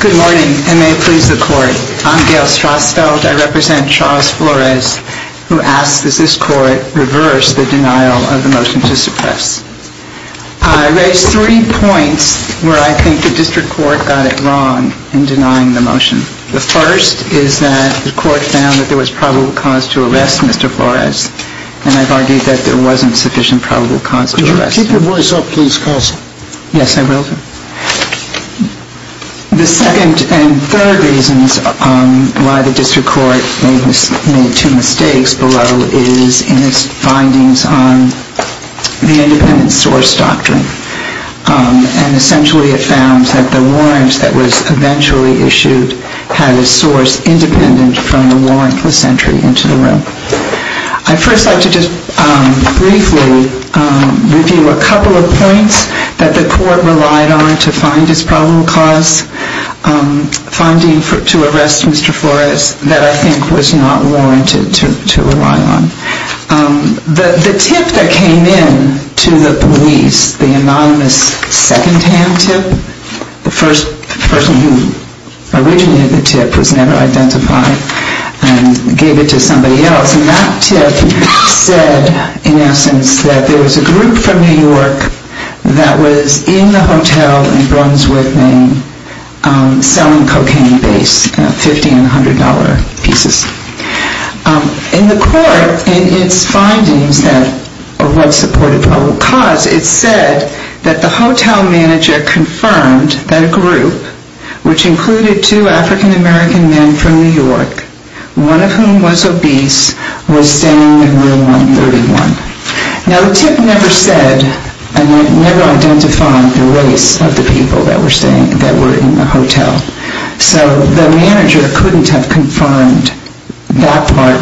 Good morning and may it please the court, I'm Gail Strasfeld, I represent Charles Flores who asks that this court reverse the denial of the motion to suppress. I raised three points where I think the district court got it wrong in denying the motion. The first is that the court found that there was probable cause to arrest Mr. Flores and I've argued that there wasn't sufficient probable cause to arrest him. Could you keep your voice up please counsel? Yes, I will. The second and third reasons why the district court made two mistakes below is in its findings on the independent source doctrine and essentially it found that the warrant that was eventually issued had a source independent from the warrantless entry into the room. I'd first like to just briefly review a couple of points that the court relied on to find his probable cause, finding to arrest Mr. Flores that I think was not warranted to rely on. The tip that came in to the police, the anonymous second tip, I gave it to somebody else, and that tip said in essence that there was a group from New York that was in the hotel in Brunswick, Maine, selling cocaine base, $1500 pieces. In the court, in its findings of what supported probable cause, it said that the hotel manager confirmed that a group, which included two African-American men from New York, one of whom was obese, was staying in room 131. Now the tip never said, never identified the race of the people that were staying, that were in the hotel, so the manager couldn't have confirmed that part,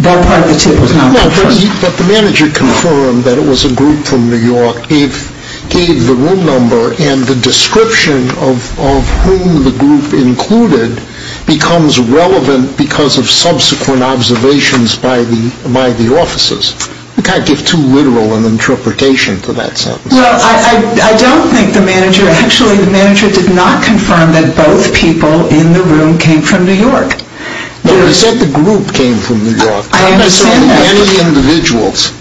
that part of the tip was not confirmed. But the manager confirmed that it was a group from New York, gave the room number, and the description of whom the group included becomes relevant because of subsequent observations by the officers. You kind of give too literal an interpretation to that sentence. Well, I don't think the manager, actually the manager did not confirm that both people in the room came from New York. But he said the group came from New York. I understand that. He said many individuals.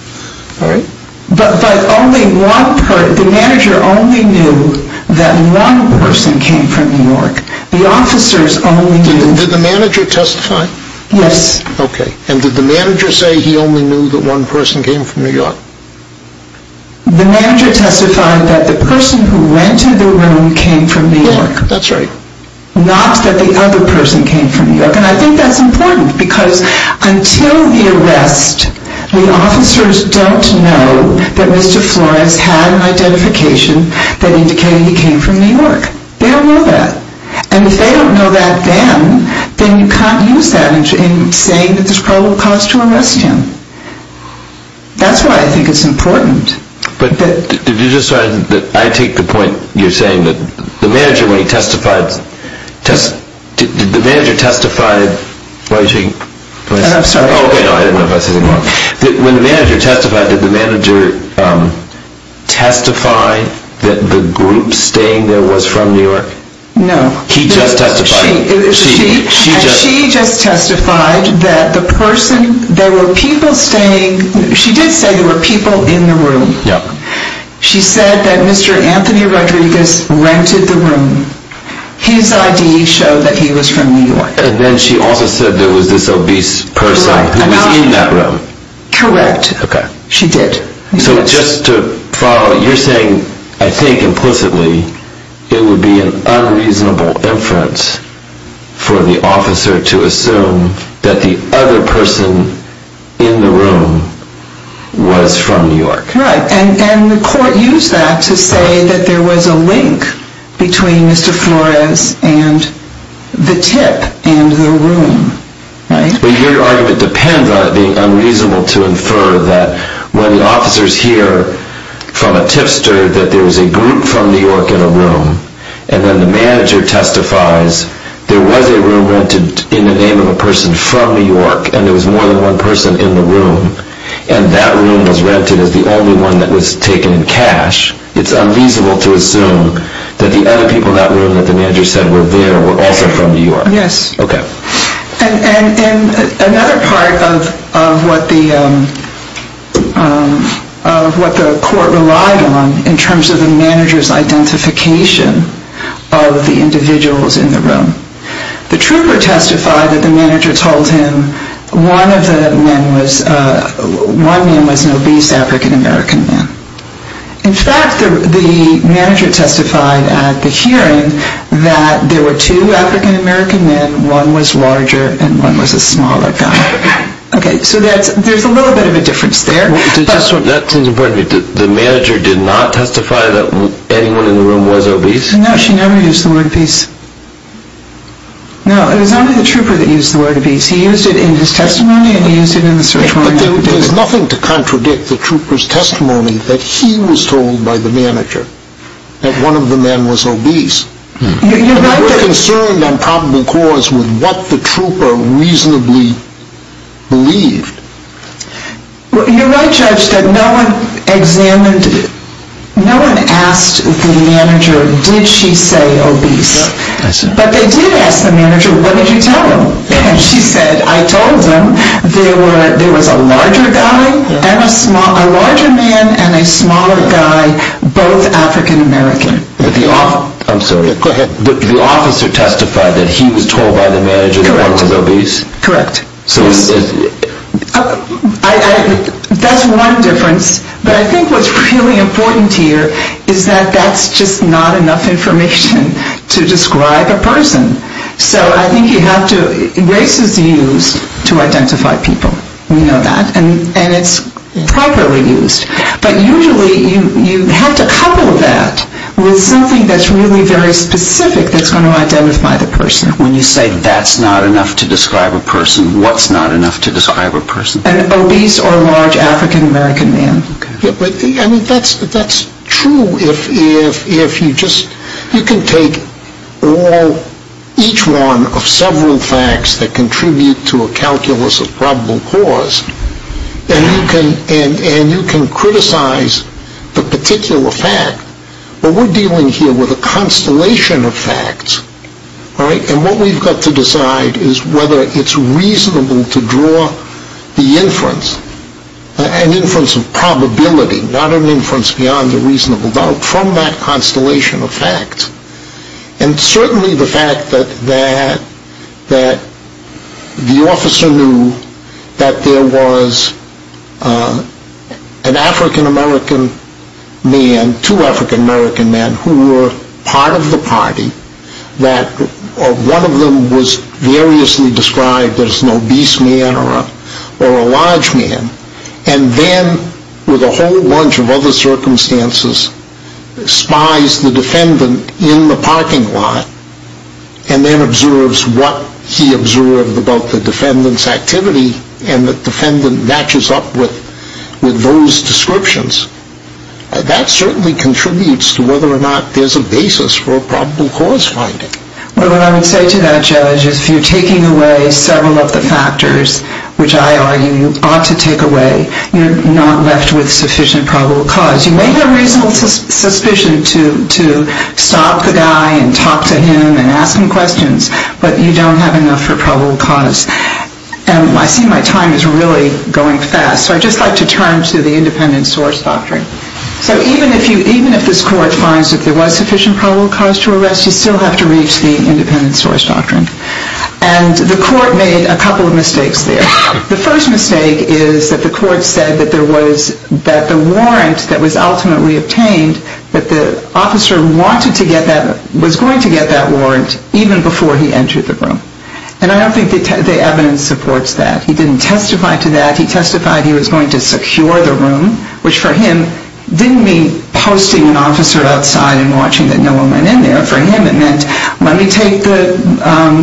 But only one person, the manager only knew that one person came from New York. The officers only knew... Did the manager testify? Yes. Okay, and did the manager say he only knew that one person came from New York? The manager testified that the person who rented the room came from New York. New York, that's right. Not that the other person came from New York. And I think that's important because until the arrest, the officers don't know that Mr. Flores had an identification that indicated he came from New York. They don't know that. And if they don't know that then, then you can't use that in saying that there's probable cause to arrest him. That's why I think it's important. But did you just say, I take the point you're saying that the manager when he testified, did the manager testify... I'm sorry. Okay, I didn't know if I said anything wrong. When the manager testified, did the manager testify that the group staying there was from New York? No. He just testified. She just testified that the person, there were people staying, she did say there were people in the room. Yeah. She said that Mr. Anthony Rodriguez rented the room. His ID showed that he was from New York. And then she also said there was this obese person who was in that room. Correct. Okay. She did. So just to follow, you're saying, I think implicitly, it would be an unreasonable inference for the officer to assume that the other person in the room was from New York. Right. And the court used that to say that there was a link between Mr. Flores and the tip and the room, right? But your argument depends on it being unreasonable to infer that when the officers hear from there was a room rented in the name of a person from New York and there was more than one person in the room and that room was rented as the only one that was taken in cash, it's unreasonable to assume that the other people in that room that the manager said were there were also from New York. Yes. Okay. And another part of what the court relied on in terms of the manager's identification of the individuals in the room, the trooper testified that the manager told him one of the men was an obese African-American man. In fact, the manager testified at the hearing that there were two African-American men, one was larger and one was a smaller guy. Okay. So there's a little bit of a difference there. That seems important to me. The manager did not testify that anyone in the room was obese? No, she never used the word obese. No, it was only the trooper that used the word obese. He used it in his testimony and he used it in the search warrant. But there's nothing to contradict the trooper's testimony that he was told by the manager that one of the men was obese. We're concerned on probable cause with what the trooper reasonably believed. You're right, Judge, that no one examined, no one asked the manager, did she say obese? But they did ask the manager, what did you tell him? And she said, I told him there was a larger man and a smaller guy, both African-American. I'm sorry. Go ahead. The officer testified that he was told by the manager that one was obese? Correct. That's one difference. But I think what's really important here is that that's just not enough information to describe a person. So I think you have to, race is used to identify people. We know that. And it's properly used. But usually you have to couple that with something that's really very specific that's going to identify the person. When you say that's not enough to describe a person, what's not enough to describe a person? An obese or a large African-American man. That's true if you just, you can take each one of several facts that contribute to a calculus of probable cause, and you can criticize the particular fact. But we're dealing here with a constellation of facts. And what we've got to decide is whether it's reasonable to draw the inference, an inference of probability, not an inference beyond a reasonable doubt, from that constellation of facts. And certainly the fact that the officer knew that there was an African-American man, two African-American men who were part of the party, that one of them was variously described as an obese man or a large man, and then with a whole bunch of other circumstances spies the defendant in the parking lot and then observes what he observed about the defendant's activity and the defendant matches up with those descriptions, that certainly contributes to whether or not there's a basis for a probable cause finding. Well, what I would say to that, Judge, is if you're taking away several of the factors, which I argue you ought to take away, you're not left with sufficient probable cause. You may have a reasonable suspicion to stop the guy and talk to him and ask him questions, but you don't have enough for probable cause. And I see my time is really going fast, so I'd just like to turn to the independent source doctrine. So even if this court finds that there was sufficient probable cause to arrest, you still have to reach the independent source doctrine. And the court made a couple of mistakes there. The first mistake is that the court said that the warrant that was ultimately obtained, that the officer was going to get that warrant even before he entered the room. And I don't think the evidence supports that. He didn't testify to that. He testified he was going to secure the room, which for him didn't mean posting an officer outside and watching that no one went in there. For him it meant let me take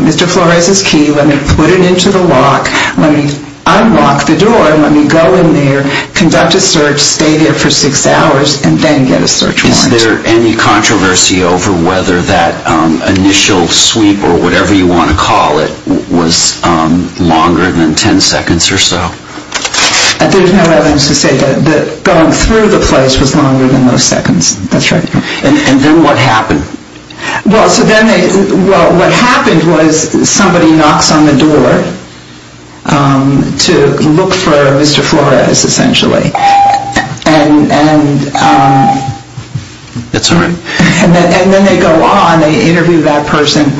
Mr. Flores' key, let me put it into the lock, let me unlock the door, let me go in there, conduct a search, stay there for six hours, and then get a search warrant. Is there any controversy over whether that initial sweep or whatever you want to call it was longer than ten seconds or so? There's no evidence to say that going through the place was longer than those seconds. That's right. And then what happened? Well, what happened was somebody knocks on the door to look for Mr. Flores, essentially. And then they go on. They interview that person.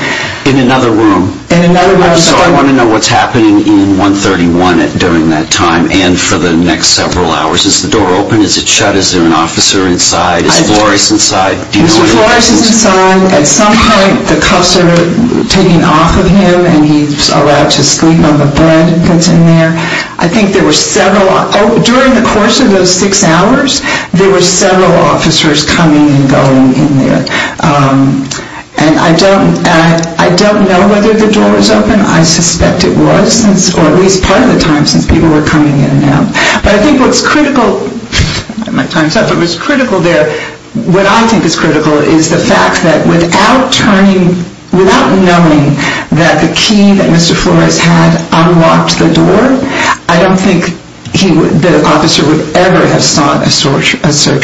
In another room? In another room. So I want to know what's happening in 131 during that time and for the next several hours. Is the door open? Is it shut? Is there an officer inside? Is Flores inside? Mr. Flores is inside. At some point the cuffs are taken off of him and he's allowed to sleep on the bed that's in there. I think there were several. During the course of those six hours there were several officers coming and going in there. And I don't know whether the door was open. I suspect it was or at least part of the time since people were coming in and out. But I think what's critical there, what I think is critical is the fact that without turning, without knowing that the key that Mr. Flores had unlocked the door, I don't think the officer would ever have sought a search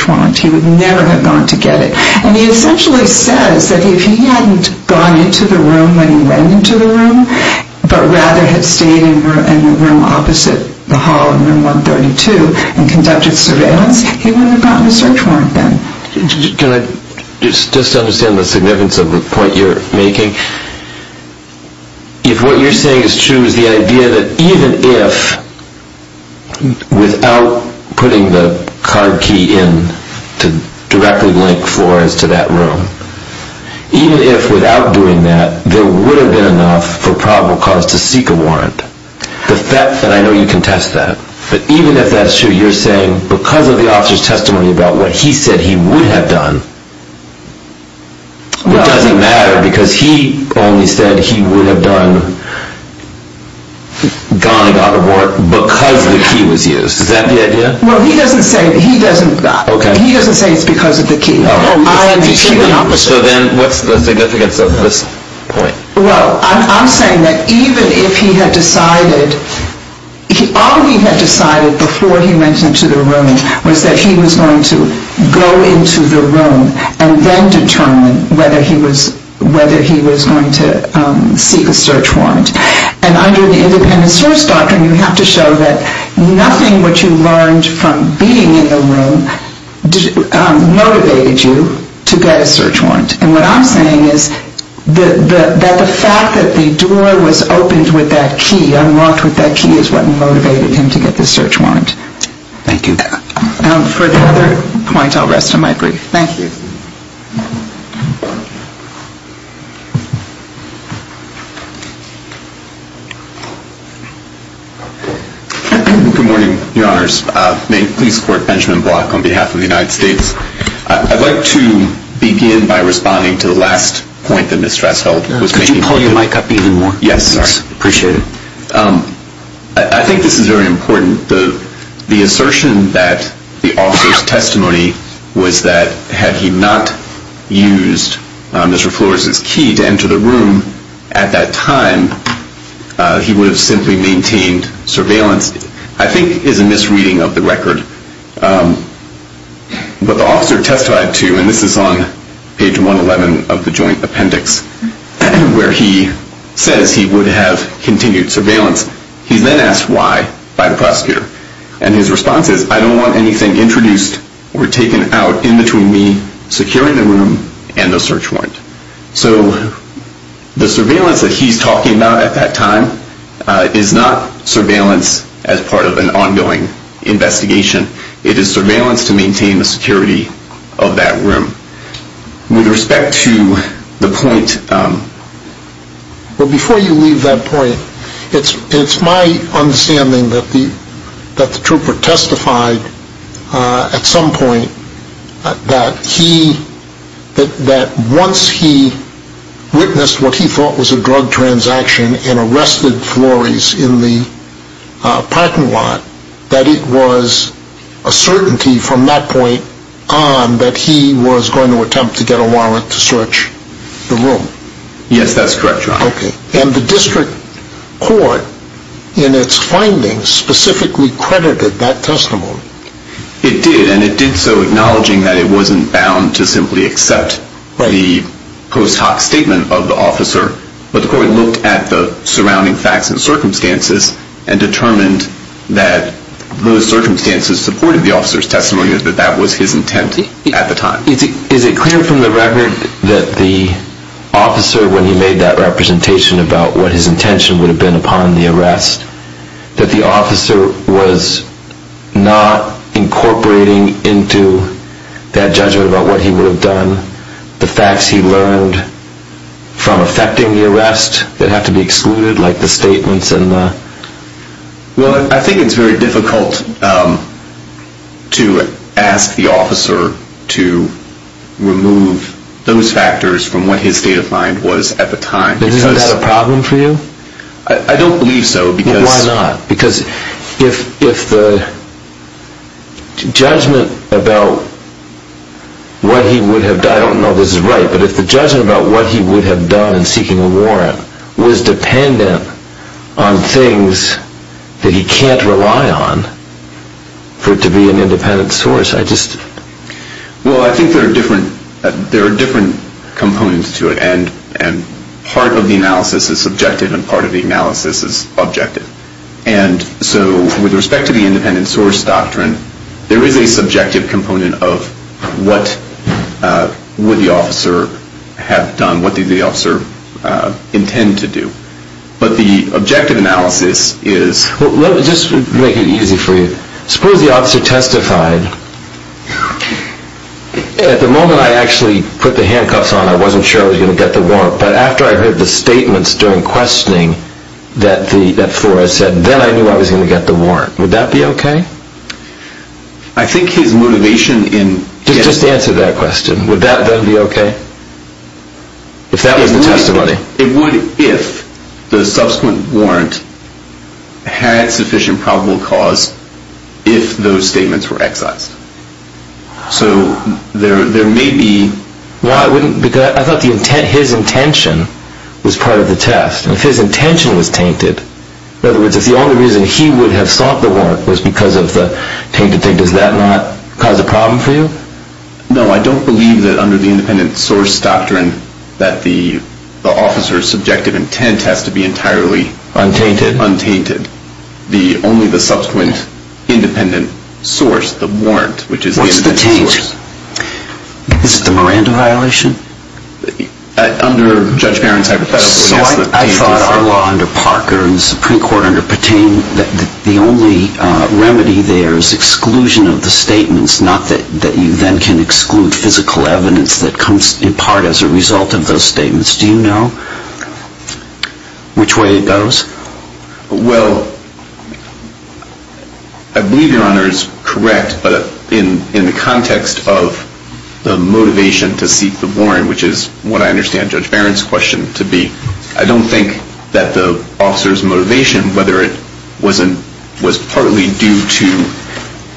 warrant. He would never have gone to get it. And he essentially says that if he hadn't gone into the room when he went into the room, but rather had stayed in the room opposite the hall in room 132 and conducted surveillance, he would have gotten a search warrant then. Can I just understand the significance of the point you're making? If what you're saying is true, is the idea that even if, without putting the card key in to directly link Flores to that room, even if without doing that there would have been enough for probable cause to seek a warrant, the fact that I know you can test that, but even if that's true, you're saying because of the officer's testimony about what he said he would have done, it doesn't matter because he only said he would have gone and got the warrant because the key was used. Is that the idea? Well, he doesn't say it's because of the key. So then what's the significance of this point? Well, I'm saying that even if he had decided, all he had decided before he went into the room was that he was going to go into the room and then determine whether he was going to seek a search warrant. And under the independent source doctrine, you have to show that nothing which you learned from being in the room motivated you to get a search warrant. And what I'm saying is that the fact that the door was opened with that key, unlocked with that key is what motivated him to get the search warrant. Thank you. For the other points, I'll rest on my brief. Thank you. Good morning, Your Honors. May please support Benjamin Block on behalf of the United States. I'd like to begin by responding to the last point that Ms. Strasshold was making. Could you pull your mic up even more? Yes. I appreciate it. I think this is very important. The assertion that the officer's testimony was that had he not used Mr. Flores' key to enter the room at that time, he would have simply maintained surveillance, I think is a misreading of the record. But the officer testified to, and this is on page 111 of the joint appendix, where he says he would have continued surveillance. He's then asked why by the prosecutor. And his response is, I don't want anything introduced or taken out in between me securing the room and the search warrant. So the surveillance that he's talking about at that time is not surveillance as part of an ongoing investigation. It is surveillance to maintain the security of that room. With respect to the point. Well, before you leave that point, it's my understanding that the trooper testified at some point that once he witnessed what he thought was a drug transaction and arrested Flores in the parking lot, that it was a certainty from that point on that he was going to attempt to get a warrant to search the room. Yes, that's correct, Your Honor. And the district court, in its findings, specifically credited that testimony. It did, and it did so acknowledging that it wasn't bound to simply accept the post hoc statement of the officer. But the court looked at the surrounding facts and circumstances and determined that those circumstances supported the officer's testimony, that that was his intent at the time. Is it clear from the record that the officer, when he made that representation about what his intention would have been upon the arrest, that the officer was not incorporating into that judgment about what he would have done the facts he learned from effecting the arrest that have to be excluded, like the statements and the... Well, I think it's very difficult to ask the officer to remove those factors from what his state of mind was at the time. Is that a problem for you? I don't believe so, because... Well, why not? Because if the judgment about what he would have done... I don't know if this is right, but if the judgment about what he would have done in seeking a warrant was dependent on things that he can't rely on for it to be an independent source, I just... Well, I think there are different components to it, and part of the analysis is subjective and part of the analysis is objective. And so with respect to the independent source doctrine, there is a subjective component of what would the officer have done, what did the officer intend to do. But the objective analysis is... Let me just make it easy for you. Suppose the officer testified. At the moment I actually put the handcuffs on, I wasn't sure I was going to get the warrant, but after I heard the statements during questioning that Flores said, then I knew I was going to get the warrant. Would that be okay? I think his motivation in... Just answer that question. Would that then be okay? If that was the testimony. It would if the subsequent warrant had sufficient probable cause if those statements were excised. So there may be... Well, I thought his intention was part of the test. And if his intention was tainted, in other words, if the only reason he would have sought the warrant was because of the tainted thing, does that not cause a problem for you? No, I don't believe that under the independent source doctrine, that the officer's subjective intent has to be entirely... Untainted? Untainted. Only the subsequent independent source, the warrant, which is... What's the taint? Is it the Miranda violation? Under Judge Barron's hypothetical... So I thought our law under Parker and the Supreme Court under Patain, the only remedy there is exclusion of the statements, not that you then can exclude physical evidence that comes in part as a result of those statements. Do you know which way it goes? Well, I believe Your Honor is correct, but in the context of the motivation to seek the warrant, which is what I understand Judge Barron's question to be, I don't think that the officer's motivation, whether it was partly due to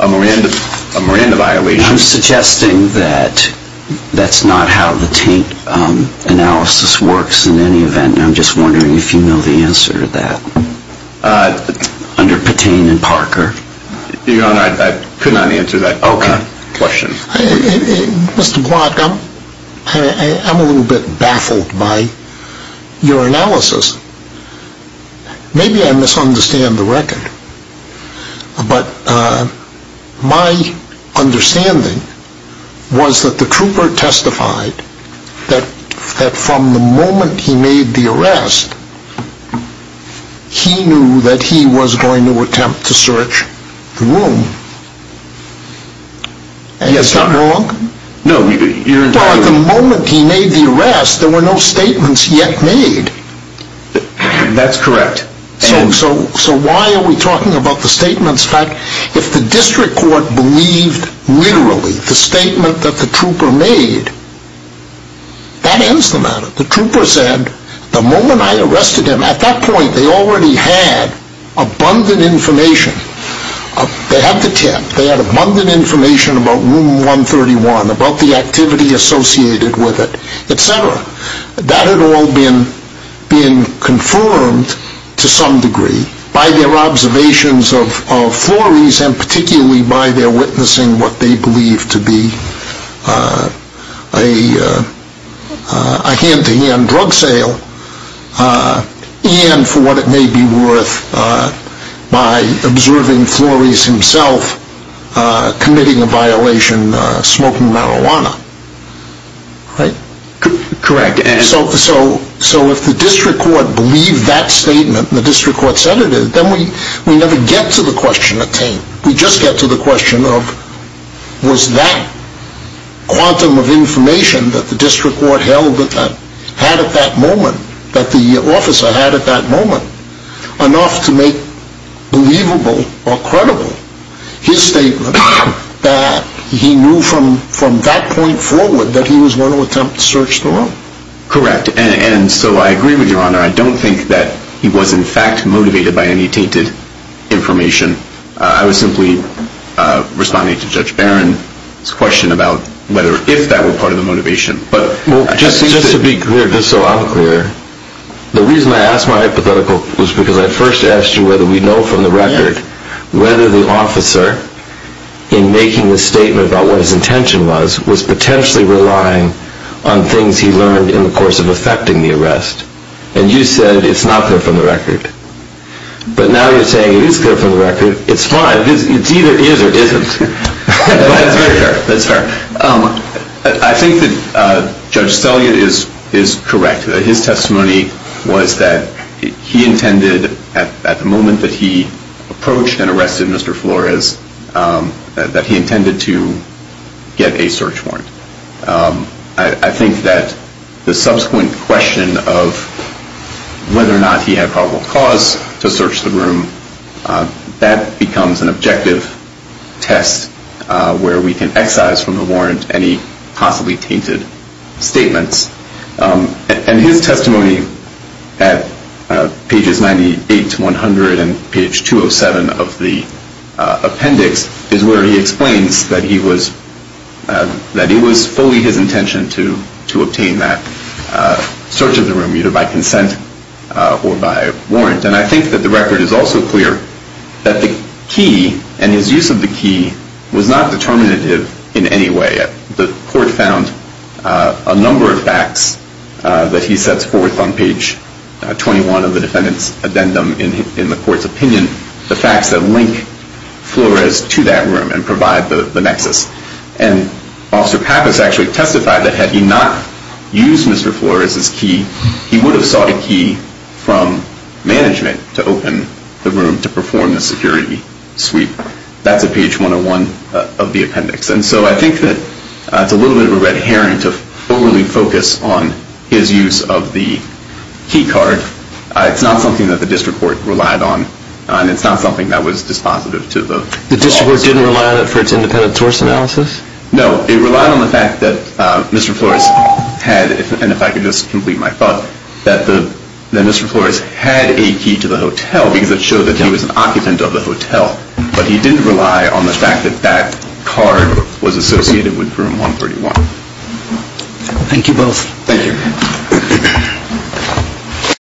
a Miranda violation... I'm suggesting that that's not how the taint analysis works in any event, and I'm just wondering if you know the answer to that under Patain and Parker. Your Honor, I could not answer that question. Mr. Glock, I'm a little bit baffled by your analysis. Maybe I misunderstand the record, but my understanding was that the trooper testified that from the moment he made the arrest, he knew that he was going to attempt to search the room. Is that wrong? No, Your Honor. Well, at the moment he made the arrest, there were no statements yet made. That's correct. So why are we talking about the statements? In fact, if the district court believed literally the statement that the trooper made, that ends the matter. The trooper said, the moment I arrested him, at that point they already had abundant information. They had the tip. They had abundant information about Room 131, about the activity associated with it, etc. That had all been confirmed to some degree by their observations of Flores and particularly by their witnessing what they believed to be a hand-to-hand drug sale and, for what it may be worth, by observing Flores himself committing a violation smoking marijuana. Correct. So if the district court believed that statement, and the district court said it did, then we never get to the question of taint. We just get to the question of, was that quantum of information that the district court had at that moment, that the officer had at that moment, enough to make believable or credible his statement that he knew from that point forward that he was going to attempt to search the room? Correct. And so I agree with Your Honor. I don't think that he was in fact motivated by any tainted information. I was simply responding to Judge Barron's question about whether if that were part of the motivation. Just to be clear, just so I'm clear, the reason I asked my hypothetical was because I first asked you whether we know from the record whether the officer, in making the statement about what his intention was, was potentially relying on things he learned in the course of effecting the arrest. And you said it's not clear from the record. But now you're saying it is clear from the record. It's fine. It's either is or isn't. That's very fair. That's fair. I think that Judge Steliot is correct. His testimony was that he intended, at the moment that he approached and arrested Mr. Flores, that he intended to get a search warrant. I think that the subsequent question of whether or not he had probable cause to search the room, that becomes an objective test where we can excise from the warrant any possibly tainted statements. And his testimony at pages 98 to 100 and page 207 of the appendix is where he explains that it was fully his intention to obtain that search of the room, either by consent or by warrant. And I think that the record is also clear that the key and his use of the key was not determinative in any way. The court found a number of facts that he sets forth on page 21 of the defendant's addendum in the court's opinion. The facts that link Flores to that room and provide the nexus. And Officer Pappas actually testified that had he not used Mr. Flores' key, he would have sought a key from management to open the room to perform the security sweep. That's at page 101 of the appendix. And so I think that it's a little bit of a red herring to overly focus on his use of the key card. It's not something that the district court relied on and it's not something that was dispositive to the law. The district court didn't rely on it for its independent source analysis? No, it relied on the fact that Mr. Flores had, and if I could just complete my thought, that Mr. Flores had a key to the hotel because it showed that he was an occupant of the hotel. But he didn't rely on the fact that that card was associated with room 131. Thank you both. Thank you. Thank you.